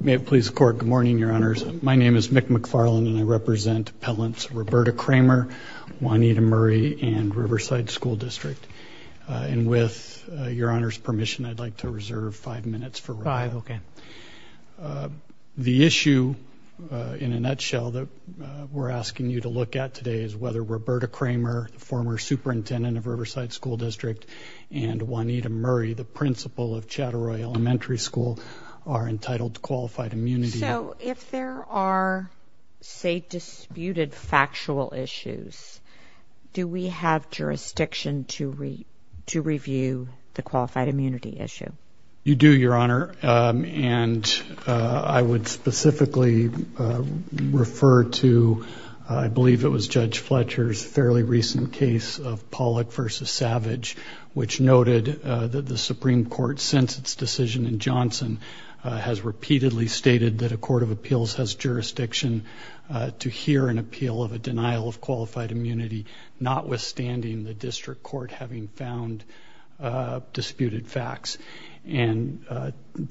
May it please the court, good morning your honors. My name is Mick McFarland and I represent appellants Roberta Kramer, Juanita Murray, and Riverside School District. And with your honor's permission I'd like to reserve five minutes. The issue in a nutshell that we're asking you to look at today is whether Roberta Kramer, the former superintendent of Riverside School District, and Juanita Murray, the principal of Chattaroi Elementary School are entitled to qualified immunity. So if there are say disputed factual issues do we have jurisdiction to read to review the qualified immunity issue? You do your honor and I would specifically refer to I believe it was Judge Fletcher's fairly recent case of Pollack v. Savage which noted that the has repeatedly stated that a court of appeals has jurisdiction to hear an appeal of a denial of qualified immunity notwithstanding the district court having found disputed facts. And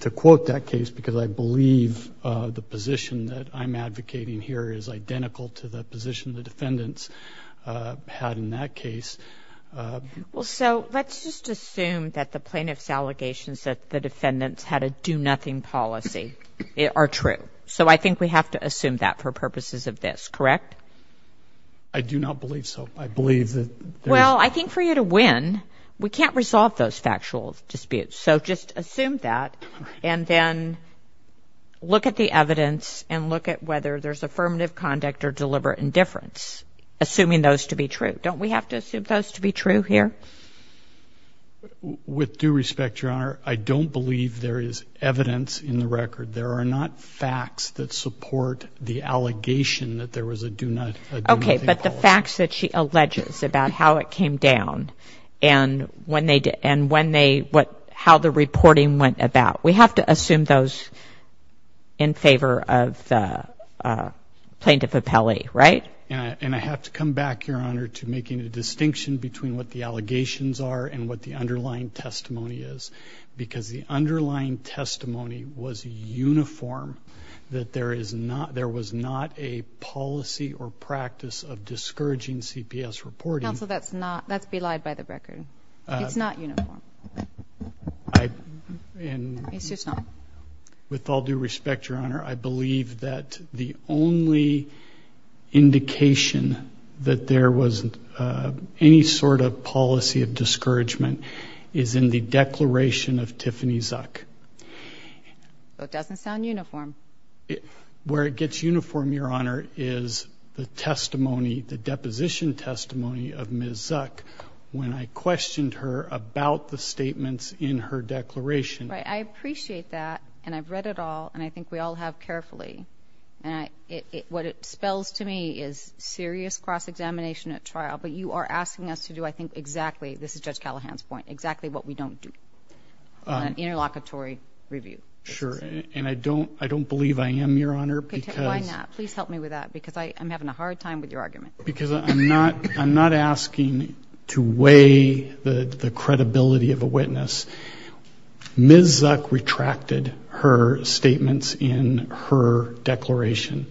to quote that case because I believe the position that I'm advocating here is identical to the position the defendants had in that case. Well so let's just assume that the plaintiffs allegations that the nothing policy are true. So I think we have to assume that for purposes of this correct? I do not believe so. I believe that. Well I think for you to win we can't resolve those factual disputes so just assume that and then look at the evidence and look at whether there's affirmative conduct or deliberate indifference assuming those to be true. Don't we have to assume those to be true here? With due respect your honor I don't believe there is evidence in the record there are not facts that support the allegation that there was a do not okay but the facts that she alleges about how it came down and when they did and when they what how the reporting went about we have to assume those in favor of plaintiff appellee right? And I have to come back your honor to making a point about what the allegations are and what the underlying testimony is because the underlying testimony was uniform that there is not there was not a policy or practice of discouraging CPS reporting. Counsel that's not that's belied by the record it's not uniform. With all due respect your honor I believe that the only indication that there was any sort of policy of discouragement is in the declaration of Tiffany Zuck. It doesn't sound uniform. Where it gets uniform your honor is the testimony the deposition testimony of Ms. Zuck when I questioned her about the statements in her declaration. I appreciate that and I've to me is serious cross-examination at trial but you are asking us to do I think exactly this is Judge Callahan's point exactly what we don't do an interlocutory review. Sure and I don't I don't believe I am your honor. Why not? Please help me with that because I am having a hard time with your argument. Because I'm not I'm not asking to weigh the credibility of a witness. Ms. Zuck retracted her statements in her declaration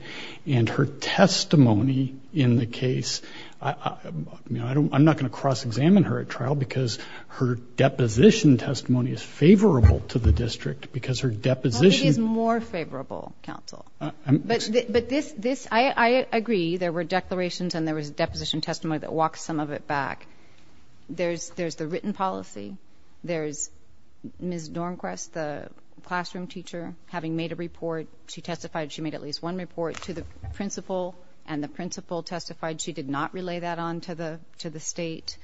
and her testimony in the case. I mean I don't I'm not going to cross-examine her at trial because her deposition testimony is favorable to the district because her deposition. It is more favorable counsel but but this this I agree there were declarations and there was a deposition testimony that walks some of it back. There's there's the classroom teacher having made a report she testified she made at least one report to the principal and the principal testified she did not relay that on to the to the state.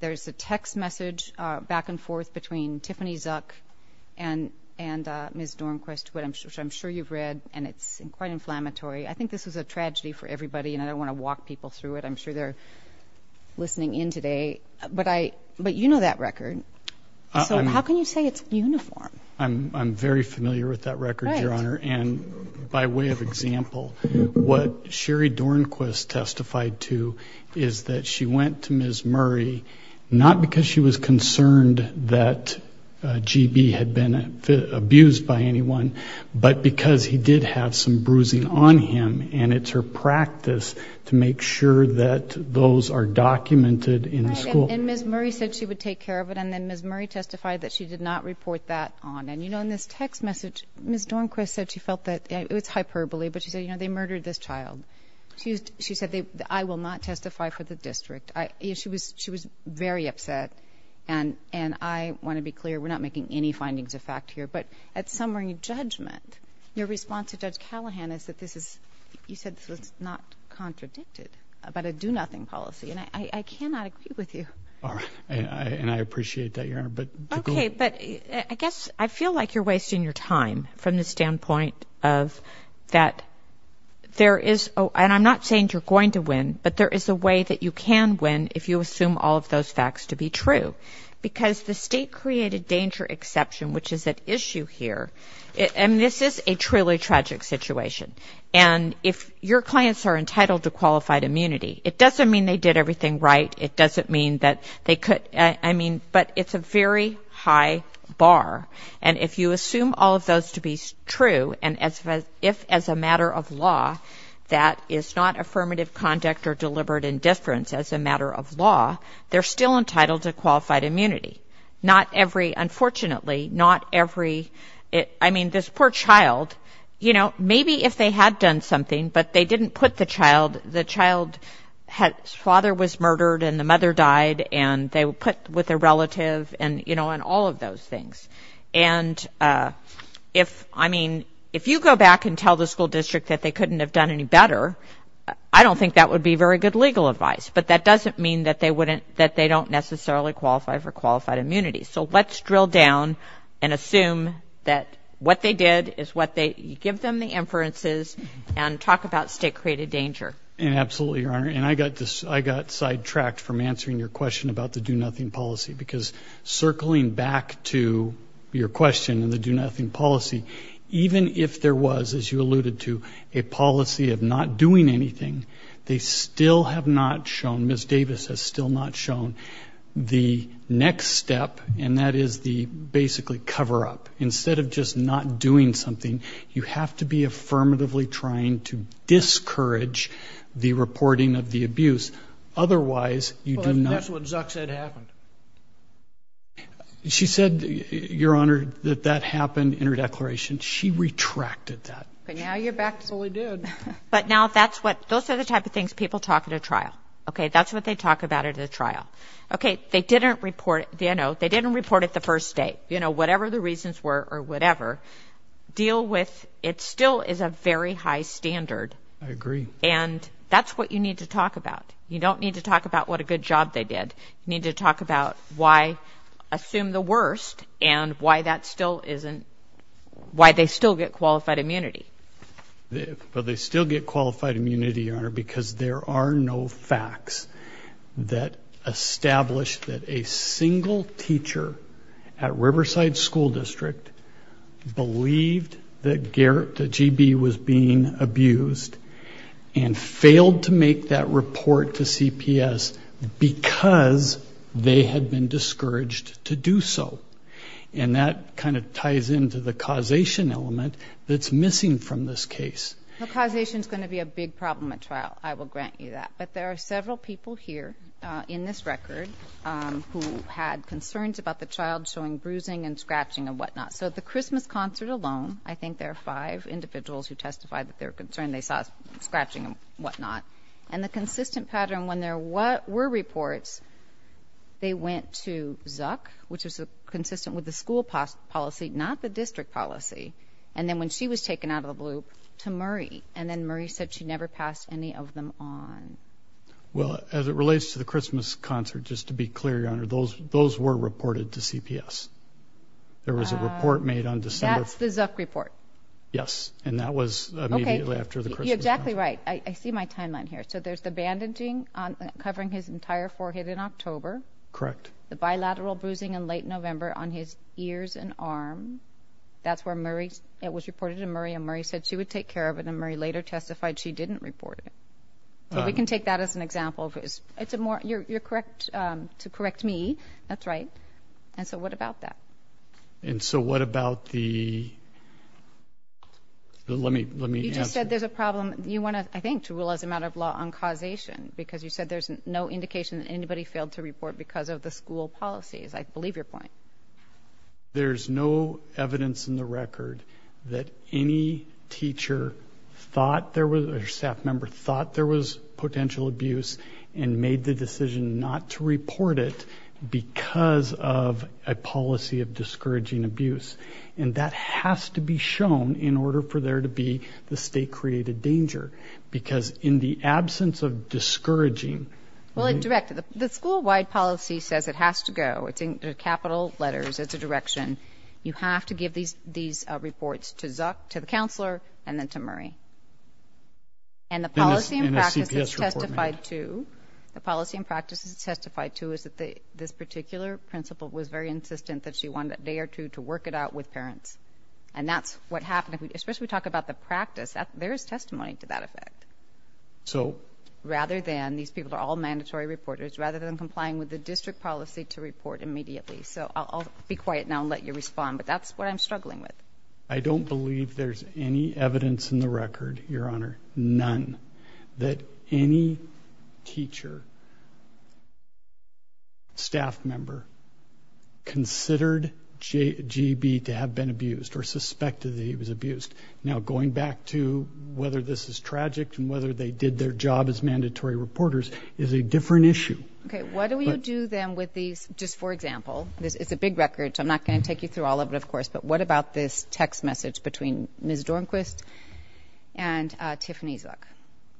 There's a text message back and forth between Tiffany Zuck and and Ms. Dornquist what I'm sure I'm sure you've read and it's quite inflammatory. I think this was a tragedy for everybody and I don't want to walk people through it. I'm sure they're listening in today but I but you know that record so how can you say it's uniform? I'm very familiar with that record your honor and by way of example what Sherry Dornquist testified to is that she went to Ms. Murray not because she was concerned that GB had been abused by anyone but because he did have some bruising on him and it's her practice to make sure that those are documented in school. And Ms. Murray said she would take care of it and then Ms. Murray testified that she did not report that on and you know in this text message Ms. Dornquist said she felt that it was hyperbole but she said you know they murdered this child. She used she said they I will not testify for the district. I she was she was very upset and and I want to be clear we're not making any findings of fact here but at summary judgment your response to Judge Callahan is that this is you said this was not contradicted about a do-nothing policy and I cannot agree with you. And I appreciate that your honor but. Okay but I guess I feel like you're wasting your time from the standpoint of that there is oh and I'm not saying you're going to win but there is a way that you can win if you assume all of those facts to be true because the state created danger exception which is at issue here and this is a truly tragic situation and if your clients are entitled to qualified immunity it doesn't mean they did everything right it doesn't mean that they could I mean but it's a very high bar and if you assume all of those to be true and as if as a matter of law that is not affirmative conduct or deliberate indifference as a matter of law they're still entitled to qualified immunity not every unfortunately not every it I mean this poor child you know maybe if they had done something but they didn't put the child the child had father was murdered and the mother died and they were put with a relative and you know and all of those things and if I mean if you go back and tell the school district that they couldn't have done any better I don't think that would be very good legal advice but that doesn't mean that they wouldn't that they don't necessarily qualify for qualified immunity so let's drill down and assume that what they did is what they give them the inferences and talk about state-created danger and absolutely your honor and I got this I got sidetracked from answering your question about the do-nothing policy because circling back to your question and the do-nothing policy even if there was as you alluded to a policy of not doing anything they still have not shown miss Davis has still not shown the next step and that is the basically cover-up instead of just not doing something you have to be affirmatively trying to discourage the reporting of the abuse otherwise you do not what Zuck said happened she said your honor that that happened in her declaration she retracted that but now you're back to what we did but now that's what those are the type of things people talk at a trial okay that's what they talk about it at a trial okay they didn't report you know they didn't report it the first day you know whatever the reasons were or whatever deal with it still is a very high standard I agree and that's what you need to talk about you don't need to talk about what a good job they did you need to talk about why assume the worst and why that still isn't why they still get qualified immunity but they still get qualified immunity honor because there are no facts that established that a single teacher at Riverside School District believed that Garrett the GB was being abused and failed to make that report to CPS because they had been discouraged to do so and that kind of ties into the causation element that's missing from this case the causation is going to be a big problem at trial I will grant you that but there are several people here in this record who had concerns about the child showing bruising and scratching and whatnot so the Christmas concert alone I think there are five individuals who testified that they're concerned they saw scratching and whatnot and the consistent pattern when there were reports they went to Zuck which was a consistent with the school policy not the district policy and then when she was taken out of the loop to Murray and then Murray said she never passed any of them on well as it relates to the Christmas concert just to be clear your there was a report made on December report yes and that was exactly right I see my timeline here so there's the bandaging on covering his entire forehead in October correct the bilateral bruising in late November on his ears and arm that's where Murray's it was reported to Murray and Murray said she would take care of it and Murray later testified she didn't report it we can take that as an example of his it's a more you're correct to about that and so what about the let me let me just said there's a problem you want to I think to rule as a matter of law on causation because you said there's no indication that anybody failed to report because of the school policies I believe your point there's no evidence in the record that any teacher thought there was a staff member thought there was potential abuse and made the of discouraging abuse and that has to be shown in order for there to be the state created danger because in the absence of discouraging well it directed the school wide policy says it has to go it's in capital letters as a direction you have to give these these reports to Zuck to the counselor and then to Murray and the policy and practice testified to the policy and practice is testified to is this particular principle was very insistent that she wanted a day or two to work it out with parents and that's what happened especially talk about the practice that there's testimony to that effect so rather than these people are all mandatory reporters rather than complying with the district policy to report immediately so I'll be quiet now and let you respond but that's what I'm struggling with I don't believe there's any evidence in the record your honor none that any teacher staff member considered JB to have been abused or suspected that he was abused now going back to whether this is tragic and whether they did their job as mandatory reporters is a different issue okay what do we do them with these just for example this is a big record so I'm not going to take you through all of it of course but what about this text message between Ms. Dornquist and Tiffany Zuck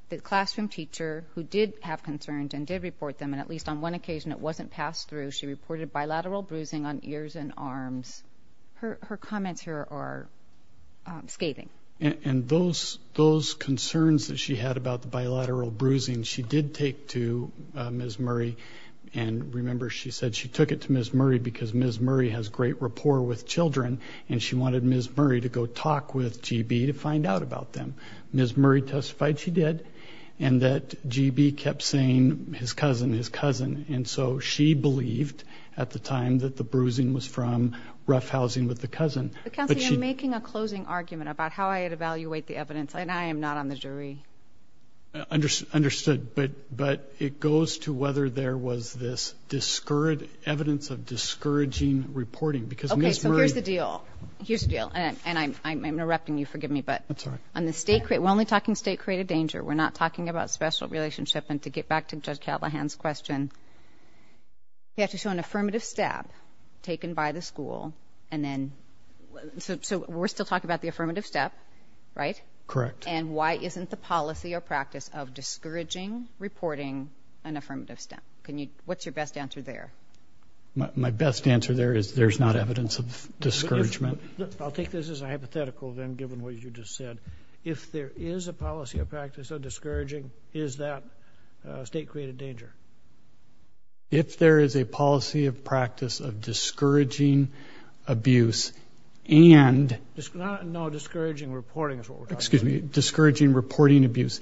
the classroom teacher who did have concerns and did report them and at least on one occasion it wasn't passed through she reported bilateral bruising on ears and arms her comments here are scathing and those those concerns that she had about the bilateral bruising she did take to Ms. Murray and remember she said she took it to Ms. Murray because Ms. Murray has great rapport with children and she wanted Ms. Murray to go talk with GB to find out about them Ms. Murray testified she did and that GB kept saying his cousin his cousin and so she believed at the time that the bruising was from roughhousing with the cousin but she making a closing argument about how I had evaluate the evidence and I am NOT on the jury understood but but it goes to whether there was this discouraged evidence of discouraging reporting because okay so here's the deal here's the deal and I'm erupting you forgive me but I'm sorry I'm the state we're only talking state created danger we're not talking about special relationship and to get back to judge Callahan's question you have to show an affirmative step taken by the school and then so we're still talking about the affirmative step right correct and why isn't the policy or practice of discouraging reporting an affirmative step can you what's your best answer there my best answer there is there's not evidence of discouragement I'll take this as a hypothetical then given what you just said if there is a policy of practice of discouraging is that state created danger if there is a policy of practice of discouraging abuse and no discouraging reporting is what excuse me discouraging reporting abuse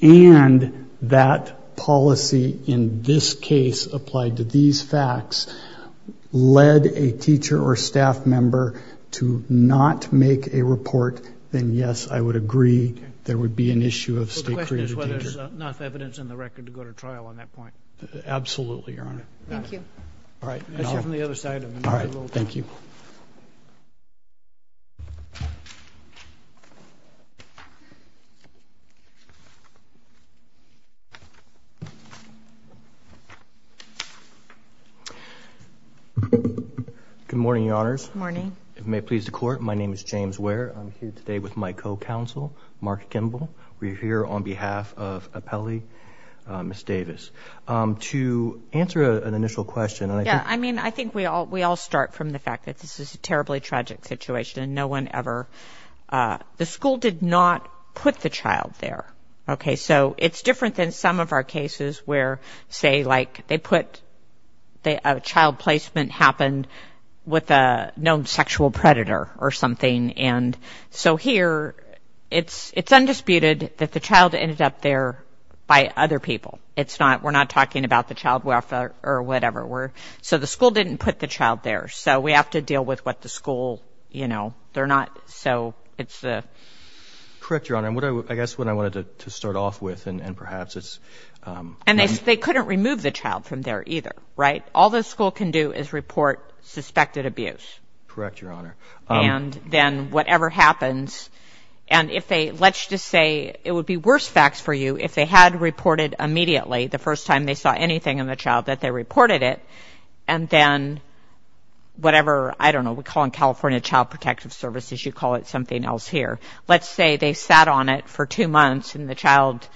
and that policy in this case applied to these facts led a teacher or staff member to not make a report then yes I would agree there would be an issue of state created danger. The question is whether there is enough evidence in the record to go to trial on that point. Absolutely your honor. Thank you. All right from the other side. All right thank you. Good morning your honors. Good morning. If it may please the court my name is James Ware. I'm here today with my co-counsel Mark Kimble. We're here on behalf of Appelli, Ms. Davis. To answer an initial question. Yeah I mean I think we all we all start from the fact that this is a terribly tragic situation and no one ever the school did not put the child there. Okay so it's different than some of our cases where say like they put a child placement happened with a known sexual predator or something and so here it's it's undisputed that the child ended up there by other people. It's not we're not talking about the child welfare or whatever we're so the school didn't put the child there so we have to deal with what the school you know they're not so it's the correct your honor and what I guess what I wanted to start off with and perhaps it's and they couldn't remove the child from there either right all the school can do is report suspected abuse correct your honor and then whatever happens and if they let's just say it would be worse facts for you if they had reported immediately the first time they saw anything in the child that they reported it and then whatever I don't know we call in California Child Protective Services you call it something else here let's say they sat on it for two months and the child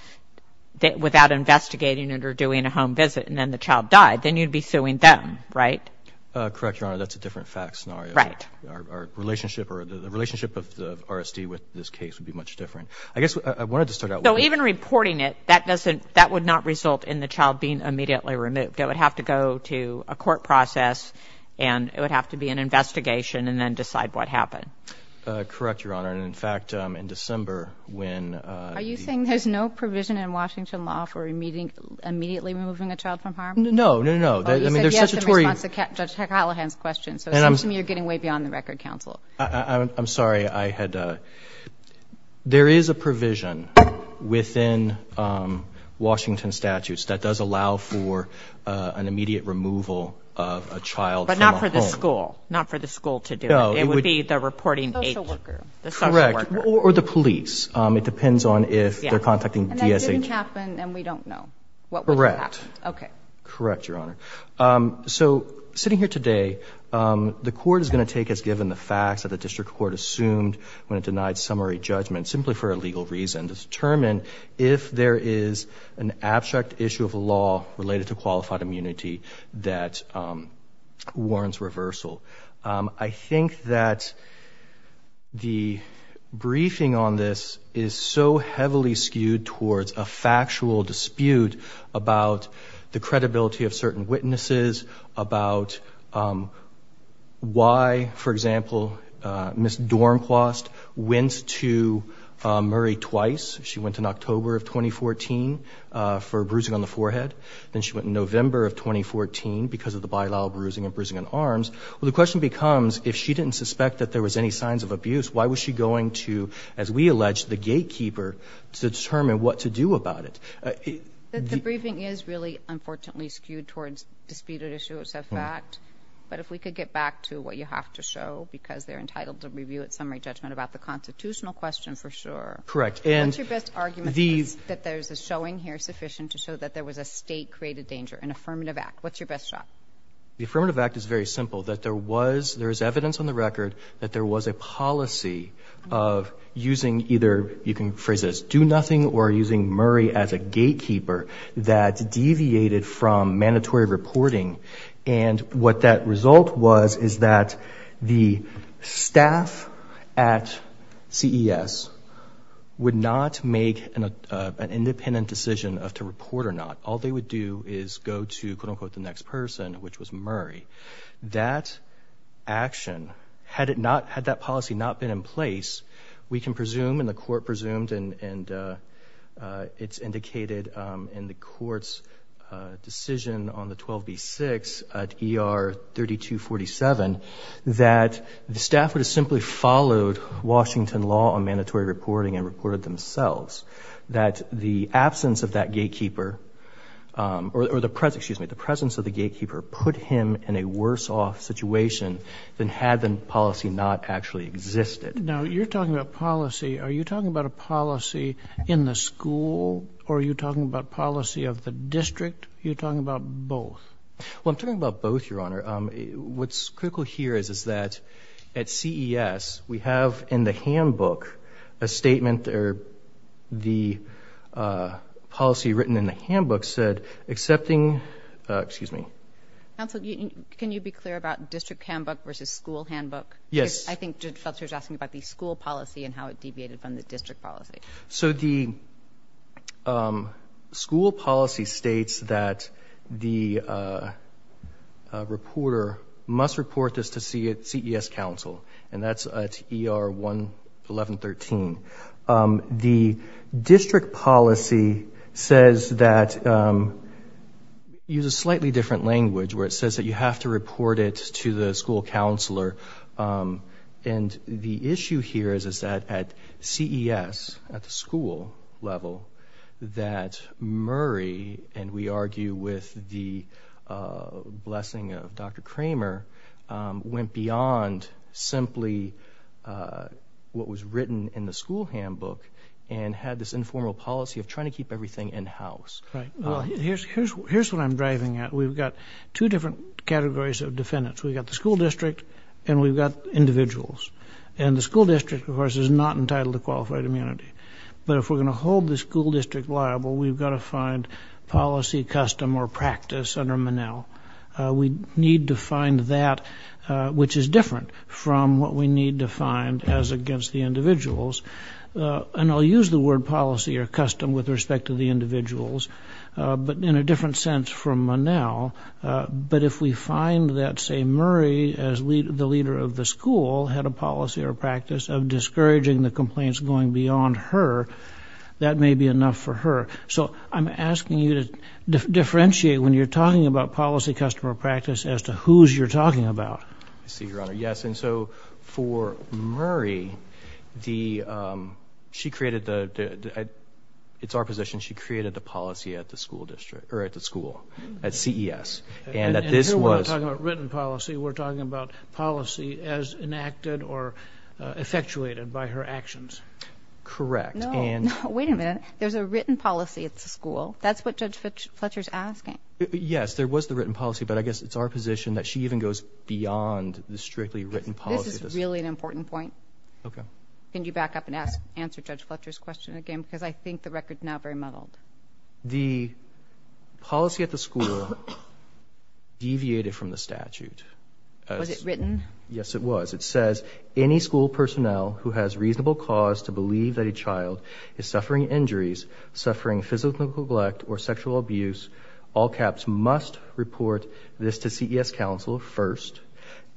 that without investigating it or doing a home visit and then the child died then you'd be suing them right correct your honor that's a different fact scenario right our relationship or the relationship of the RSD with this case would be much different I guess I wanted to start out so even reporting it that doesn't that would not result in the child being immediately removed it would have to go to a court process and it would have to be an investigation and then decide what happened correct your honor and in fact I'm in December when are you saying there's no provision in Washington law for a meeting immediately removing a child from harm no no no I mean there's such a Tory's question so you're getting way beyond the Record Council I'm sorry I had there is a provision within Washington statutes that does allow for an immediate removal of a child but not for the school not for the school to do it would be the reporting or the police it depends on if they're contacting correct okay correct your honor so sitting here today the court is going to take as given the facts of the district court assumed when it denied summary judgment simply for a legal reason to determine if there is an abstract issue of law related to that warrants reversal I think that the briefing on this is so heavily skewed towards a factual dispute about the credibility of certain witnesses about why for example miss Dornquist went to Murray twice she went in October of 2014 for bruising on the forehead then she went in November of 2014 because of the bylaw bruising and bruising on arms well the question becomes if she didn't suspect that there was any signs of abuse why was she going to as we alleged the gatekeeper to determine what to do about it the briefing is really unfortunately skewed towards disputed issues of fact but if we could get back to what you have to show because they're entitled to review at summary judgment about the constitutional question for sure correct and your best argument these that there's a showing here sufficient to show that there was a state created danger an affirmative act what's your best shot the affirmative act is very simple that there was there is evidence on the record that there was a policy of using either you can phrase this do nothing or using Murray as a gatekeeper that deviated from mandatory reporting and what that result was is that the staff at CES would not make an independent decision of to report or not all they would do is go to quote-unquote the next person which was Murray that action had it not had that policy not been in place we can presume in the court presumed and it's indicated in the courts decision on the 12b 6 at er 3247 that the staff would have simply followed Washington law on mandatory reporting and reported themselves that the absence of that gatekeeper or the present excuse me the presence of the gatekeeper put him in a worse-off situation than had the policy not actually existed now you're talking about policy are you talking about a policy in the school or are you talking about policy of the district you're talking about both well I'm talking about both your honor what's critical here is is that at CES we have in the handbook a statement there the policy written in the handbook said accepting excuse me can you be clear about district handbook versus school handbook yes I think just felt she was asking about the school policy and how it reporter must report this to see it CES Council and that's at er 1 1113 the district policy says that use a slightly different language where it says that you have to report it to the school counselor and the issue here is is that at CES at the school level that Murray and we argue with the blessing of dr. Kramer went beyond simply what was written in the school handbook and had this informal policy of trying to keep everything in-house right well here's here's what I'm driving at we've got two different categories of defendants we've got the school district and we've got individuals and the school district of course is not entitled to qualified immunity but if we're going to hold the school district liable we've got to find policy custom or practice under Manel we need to find that which is different from what we need to find as against the individuals and I'll use the word policy or custom with respect to the individuals but in a different sense from Manel but if we find that say Murray as lead the leader of the school had a policy or practice of discouraging the complaints going beyond her that may be enough for her so I'm asking you to differentiate when you're talking about policy customer practice as to who's you're talking about yes and so for Murray the she created the it's our position she created the policy at the school district or at the school at CES and that this was written policy we're talking about policy as enacted or effectuated by her actions correct and wait a minute there's a written policy at the school that's what judge Fletcher's asking yes there was the written policy but I guess it's our position that she even goes beyond the strictly written policy this is really an important point okay can you back up and ask answer judge Fletcher's question again because I think the records now the policy at the school deviated from the statute yes it was it says any school personnel who has reasonable cause to believe that a child is suffering injuries suffering physical neglect or sexual abuse all caps must report this to CES counsel first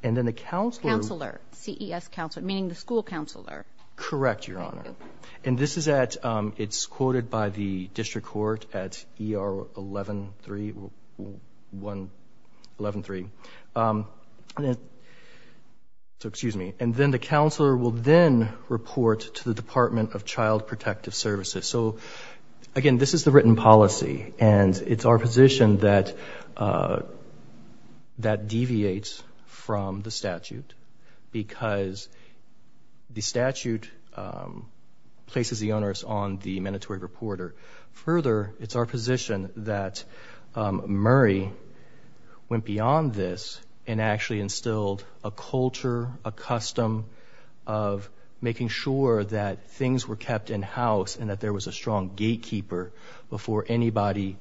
and then the counselor counselor CES counselor meaning the school counselor correct your honor and this is that it's the district court at ER 113 113 and it so excuse me and then the counselor will then report to the Department of Child Protective Services so again this is the written policy and it's our position that that deviates from the statute because the statute places the onerous on the mandatory reporter further it's our position that Murray went beyond this and actually instilled a culture a custom of making sure that things were kept in-house and that there was a strong gatekeeper before anybody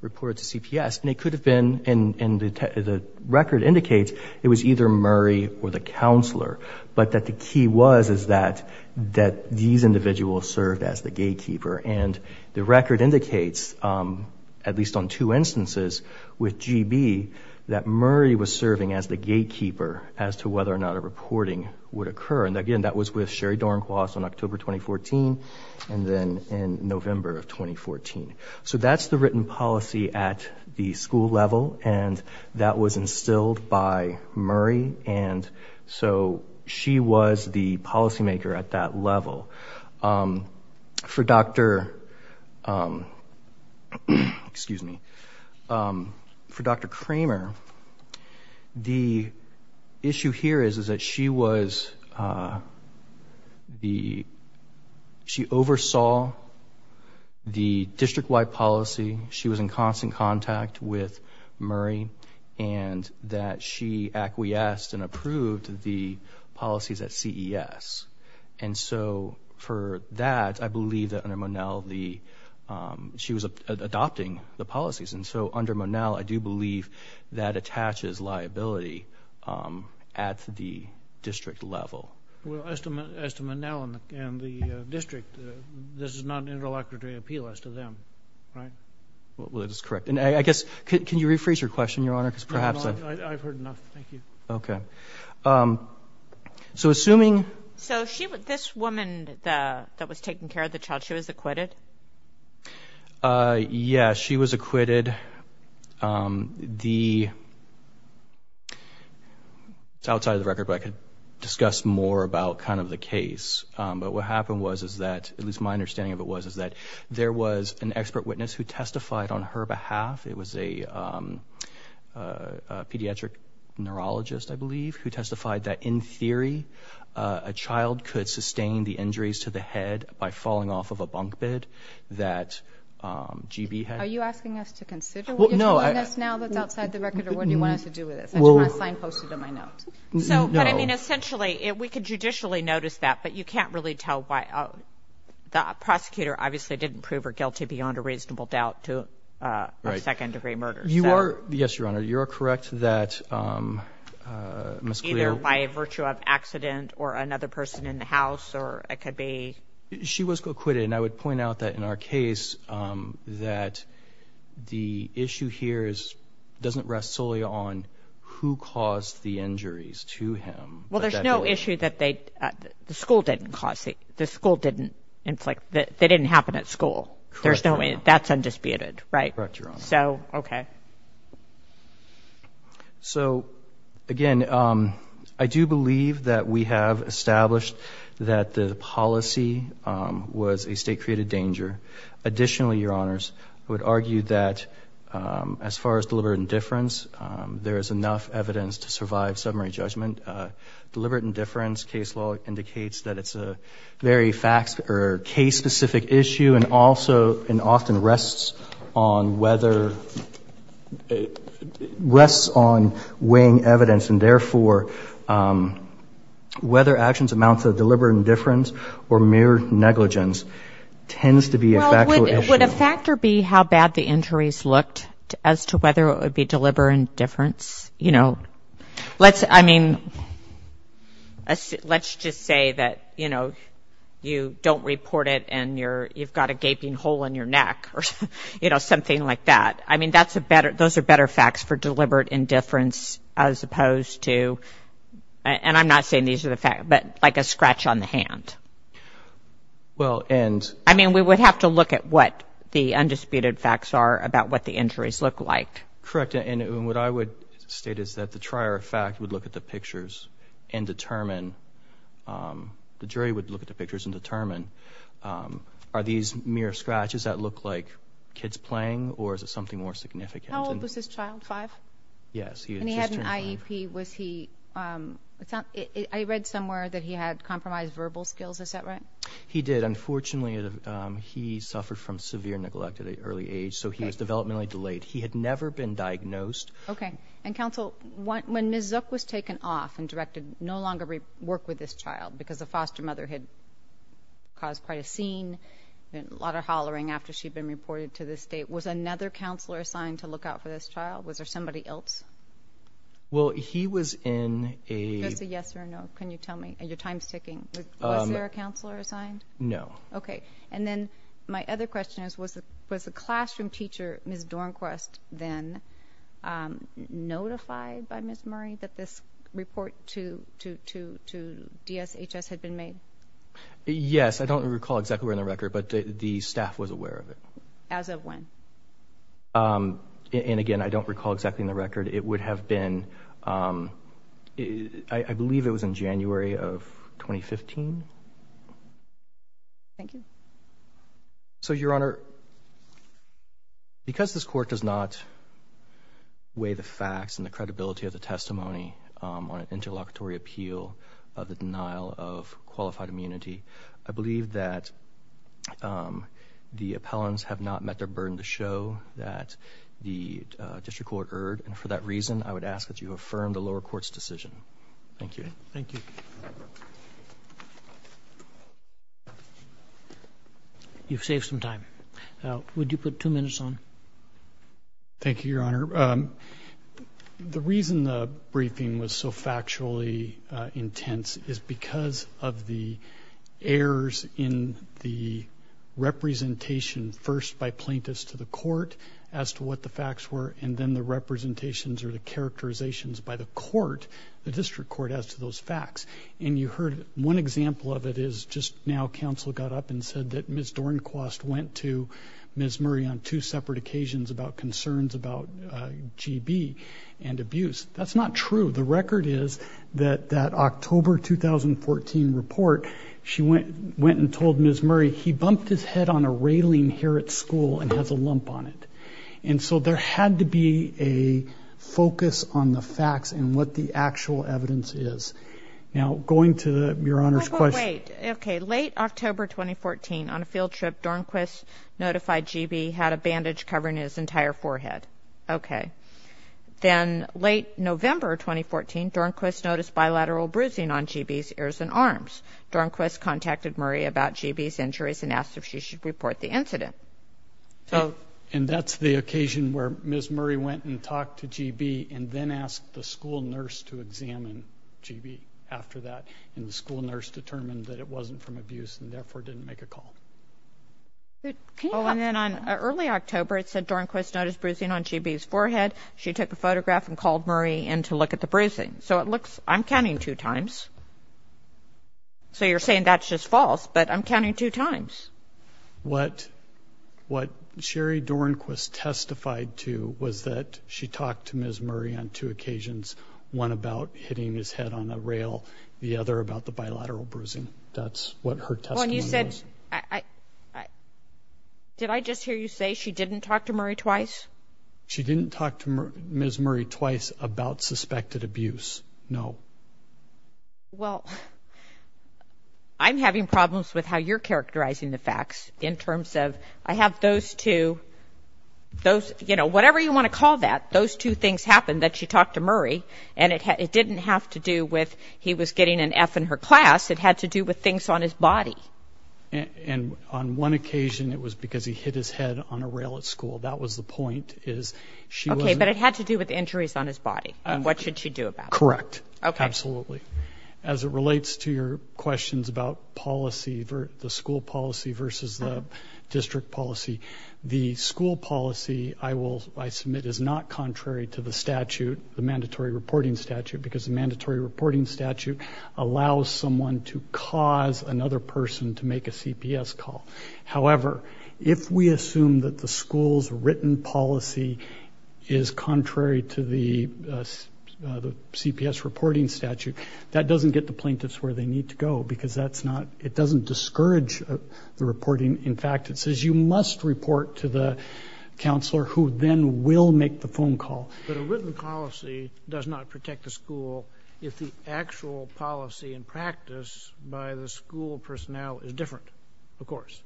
reported to CPS and it could have been in the record indicates it was either Murray or the counselor but that the key was is that that these individuals served as the gatekeeper and the record indicates at least on two instances with GB that Murray was serving as the gatekeeper as to whether or not a reporting would occur and again that was with Sherry Dornquist on October 2014 and then in November of 2014 so that's the written policy at the school level and that was instilled by Murray and so she was the policymaker at that level for dr. excuse me for dr. Kramer the issue here is is that she was the she oversaw the district-wide policy she was in constant contact with Murray and that she acquiesced and approved the policies at CES and so for that I believe that under Monell the she was adopting the policies and so under Monell I do believe that attaches liability at the district level well estimate estimate now and the district this is not an interlocutor to appeal as to them right well it is correct and I guess can you rephrase your question your honor because perhaps I've heard enough thank you okay so assuming so she would this woman that was taking care of the child she was acquitted yes she was acquitted the outside of the record but discuss more about kind of the case but what happened was is that at least my understanding of it was is that there was an expert witness who testified on her behalf it was a pediatric neurologist I believe who testified that in theory a child could sustain the injuries to the head by falling off of a essentially if we could judicially notice that but you can't really tell why the prosecutor obviously didn't prove her guilty beyond a reasonable doubt to a second-degree murder you are yes your honor you're correct that either by virtue of accident or another person in the house or it could be she was acquitted and I would point out that in our case that the issue here is doesn't rest solely on who caused the injuries to him well there's no issue that they the school didn't cause the school didn't inflict that they didn't happen at school there's no way that's undisputed right so okay so again I do believe that we have established that the policy was a state-created danger additionally your honors I would argue that as far as deliberate indifference there is enough evidence to survive summary judgment deliberate indifference case law indicates that it's a very facts or case specific issue and also and often rests on whether rests on weighing evidence and therefore whether actions amounts of deliberate indifference or mere negligence tends to be a factor be how bad the injuries looked as to whether it would be deliberate indifference you know let's I mean let's just say that you know you don't report it and you're you've got a gaping hole in your neck or you know something like that I mean that's a better those are better facts for deliberate indifference as a scratch on the hand well and I mean we would have to look at what the undisputed facts are about what the injuries look like correct and what I would state is that the trier fact would look at the pictures and determine the jury would look at the pictures and determine are these mere scratches that look like kids playing or is it something more significant child five yes he was he read somewhere that he had compromised verbal skills is that right he did unfortunately he suffered from severe neglect at an early age so he was developmentally delayed he had never been diagnosed okay and counsel what was taken off and directed no longer work with this child because the foster mother had caused quite a scene and a lot of hollering after she'd been reported to the state was another counselor assigned to look out for this child was there somebody else well he was in a yes or no can you tell me and your time sticking there a counselor assigned no okay and then my other question is was it was a classroom teacher miss Dornquist then notified by miss Murray that this report to to to to DSHS had been made yes I don't recall exactly where in the record but the staff was aware of it as of when and again I don't recall exactly in the record it would have been I believe it was in January of 2015 thank you so your honor because this court does not weigh the facts and the credibility of the testimony on an interlocutory appeal of the denial of qualified immunity I believe that the appellants have not met their burden to show that the district court erred and for that reason I would ask that you affirm the lower courts decision thank you thank you you've saved some time now would you put two minutes on thank you your honor the reason the briefing was so factually intense is because of the errors in the presentation first by plaintiffs to the court as to what the facts were and then the representations or the characterizations by the court the district court as to those facts and you heard one example of it is just now counsel got up and said that miss Dornquist went to miss Murray on two separate occasions about concerns about GB and abuse that's not true the record is that that October 2014 report she went went and told miss Murray he bumped his head on a railing here at school and has a lump on it and so there had to be a focus on the facts and what the actual evidence is now going to your honor's question okay late October 2014 on a field trip Dornquist notified GB had a bandage covering his entire forehead okay then late November 2014 Dornquist noticed bilateral bruising on GB's ears and arms Dornquist contacted Murray about GB's injuries and asked if she should report the incident so and that's the occasion where miss Murray went and talked to GB and then asked the school nurse to examine GB after that and the school nurse determined that it wasn't from abuse and therefore didn't make a call and then on early October it said Dornquist noticed bruising on GB's forehead she took a photograph and called Murray and to look at the bruising so it looks I'm counting two times so you're saying that's just false but I'm counting two times what what Sherry Dornquist testified to was that she talked to miss Murray on two occasions one about hitting his head on a rail the other about the bilateral bruising that's what her testimony said I did I just hear you say she didn't talk to Murray twice she didn't talk to miss Murray twice about suspected abuse no well I'm having problems with how you're characterizing the facts in terms of I have those two those you know whatever you want to call that those two things happen that she talked to Murray and it didn't have to do with he was getting an F in her class it had to do with things on his body and on one occasion it was because he hit his head on a rail at school that was the point is she okay but it had to do with injuries on his body and what should she do about correct okay absolutely as it relates to your questions about policy for the school policy versus the district policy the school policy I will I submit is not contrary to the statute the mandatory reporting statute because the mandatory reporting statute allows someone to cause another person to make a CPS call however if we assume that the school's written policy is contrary to the CPS reporting statute that doesn't get the plaintiffs where they need to go because that's not it doesn't discourage the reporting in fact it says you must report to the counselor who then will make the phone call but a written policy does not protect the school if the actual policy in practice by the school personnel is different of course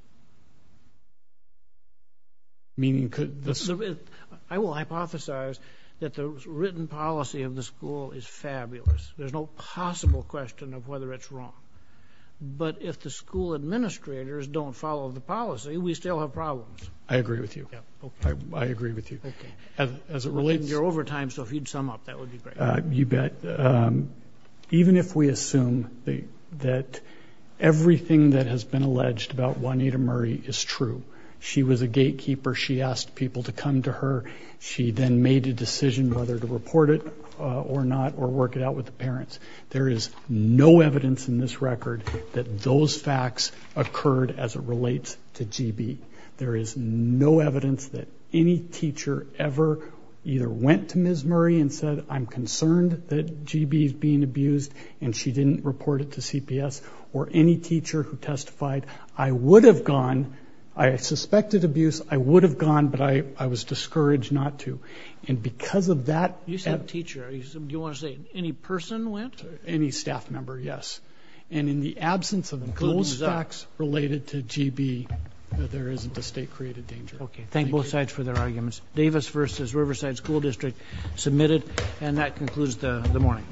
meaning could this I will hypothesize that the written policy of the school is fabulous there's no possible question of whether it's wrong but if the school administrators don't follow the policy we still have problems I agree with you I agree with you as it relates your overtime so if you'd sum up that would be great you bet even if we assume the that everything that has been alleged about Juanita Murray is true she was a gatekeeper she asked people to come to her she then made a decision whether to report it or not or work it out with the parents there is no evidence in this record that those facts occurred as it relates to GB there is no evidence that any teacher ever either went to Ms. Murray and said I'm concerned that GB is being abused and she didn't report it to would have gone I suspected abuse I would have gone but I I was discouraged not to and because of that you said teacher you want to say any person went any staff member yes and in the absence of those facts related to GB there isn't a state created danger okay thank both sides for their arguments Davis versus Riverside School District submitted and that concludes the the morning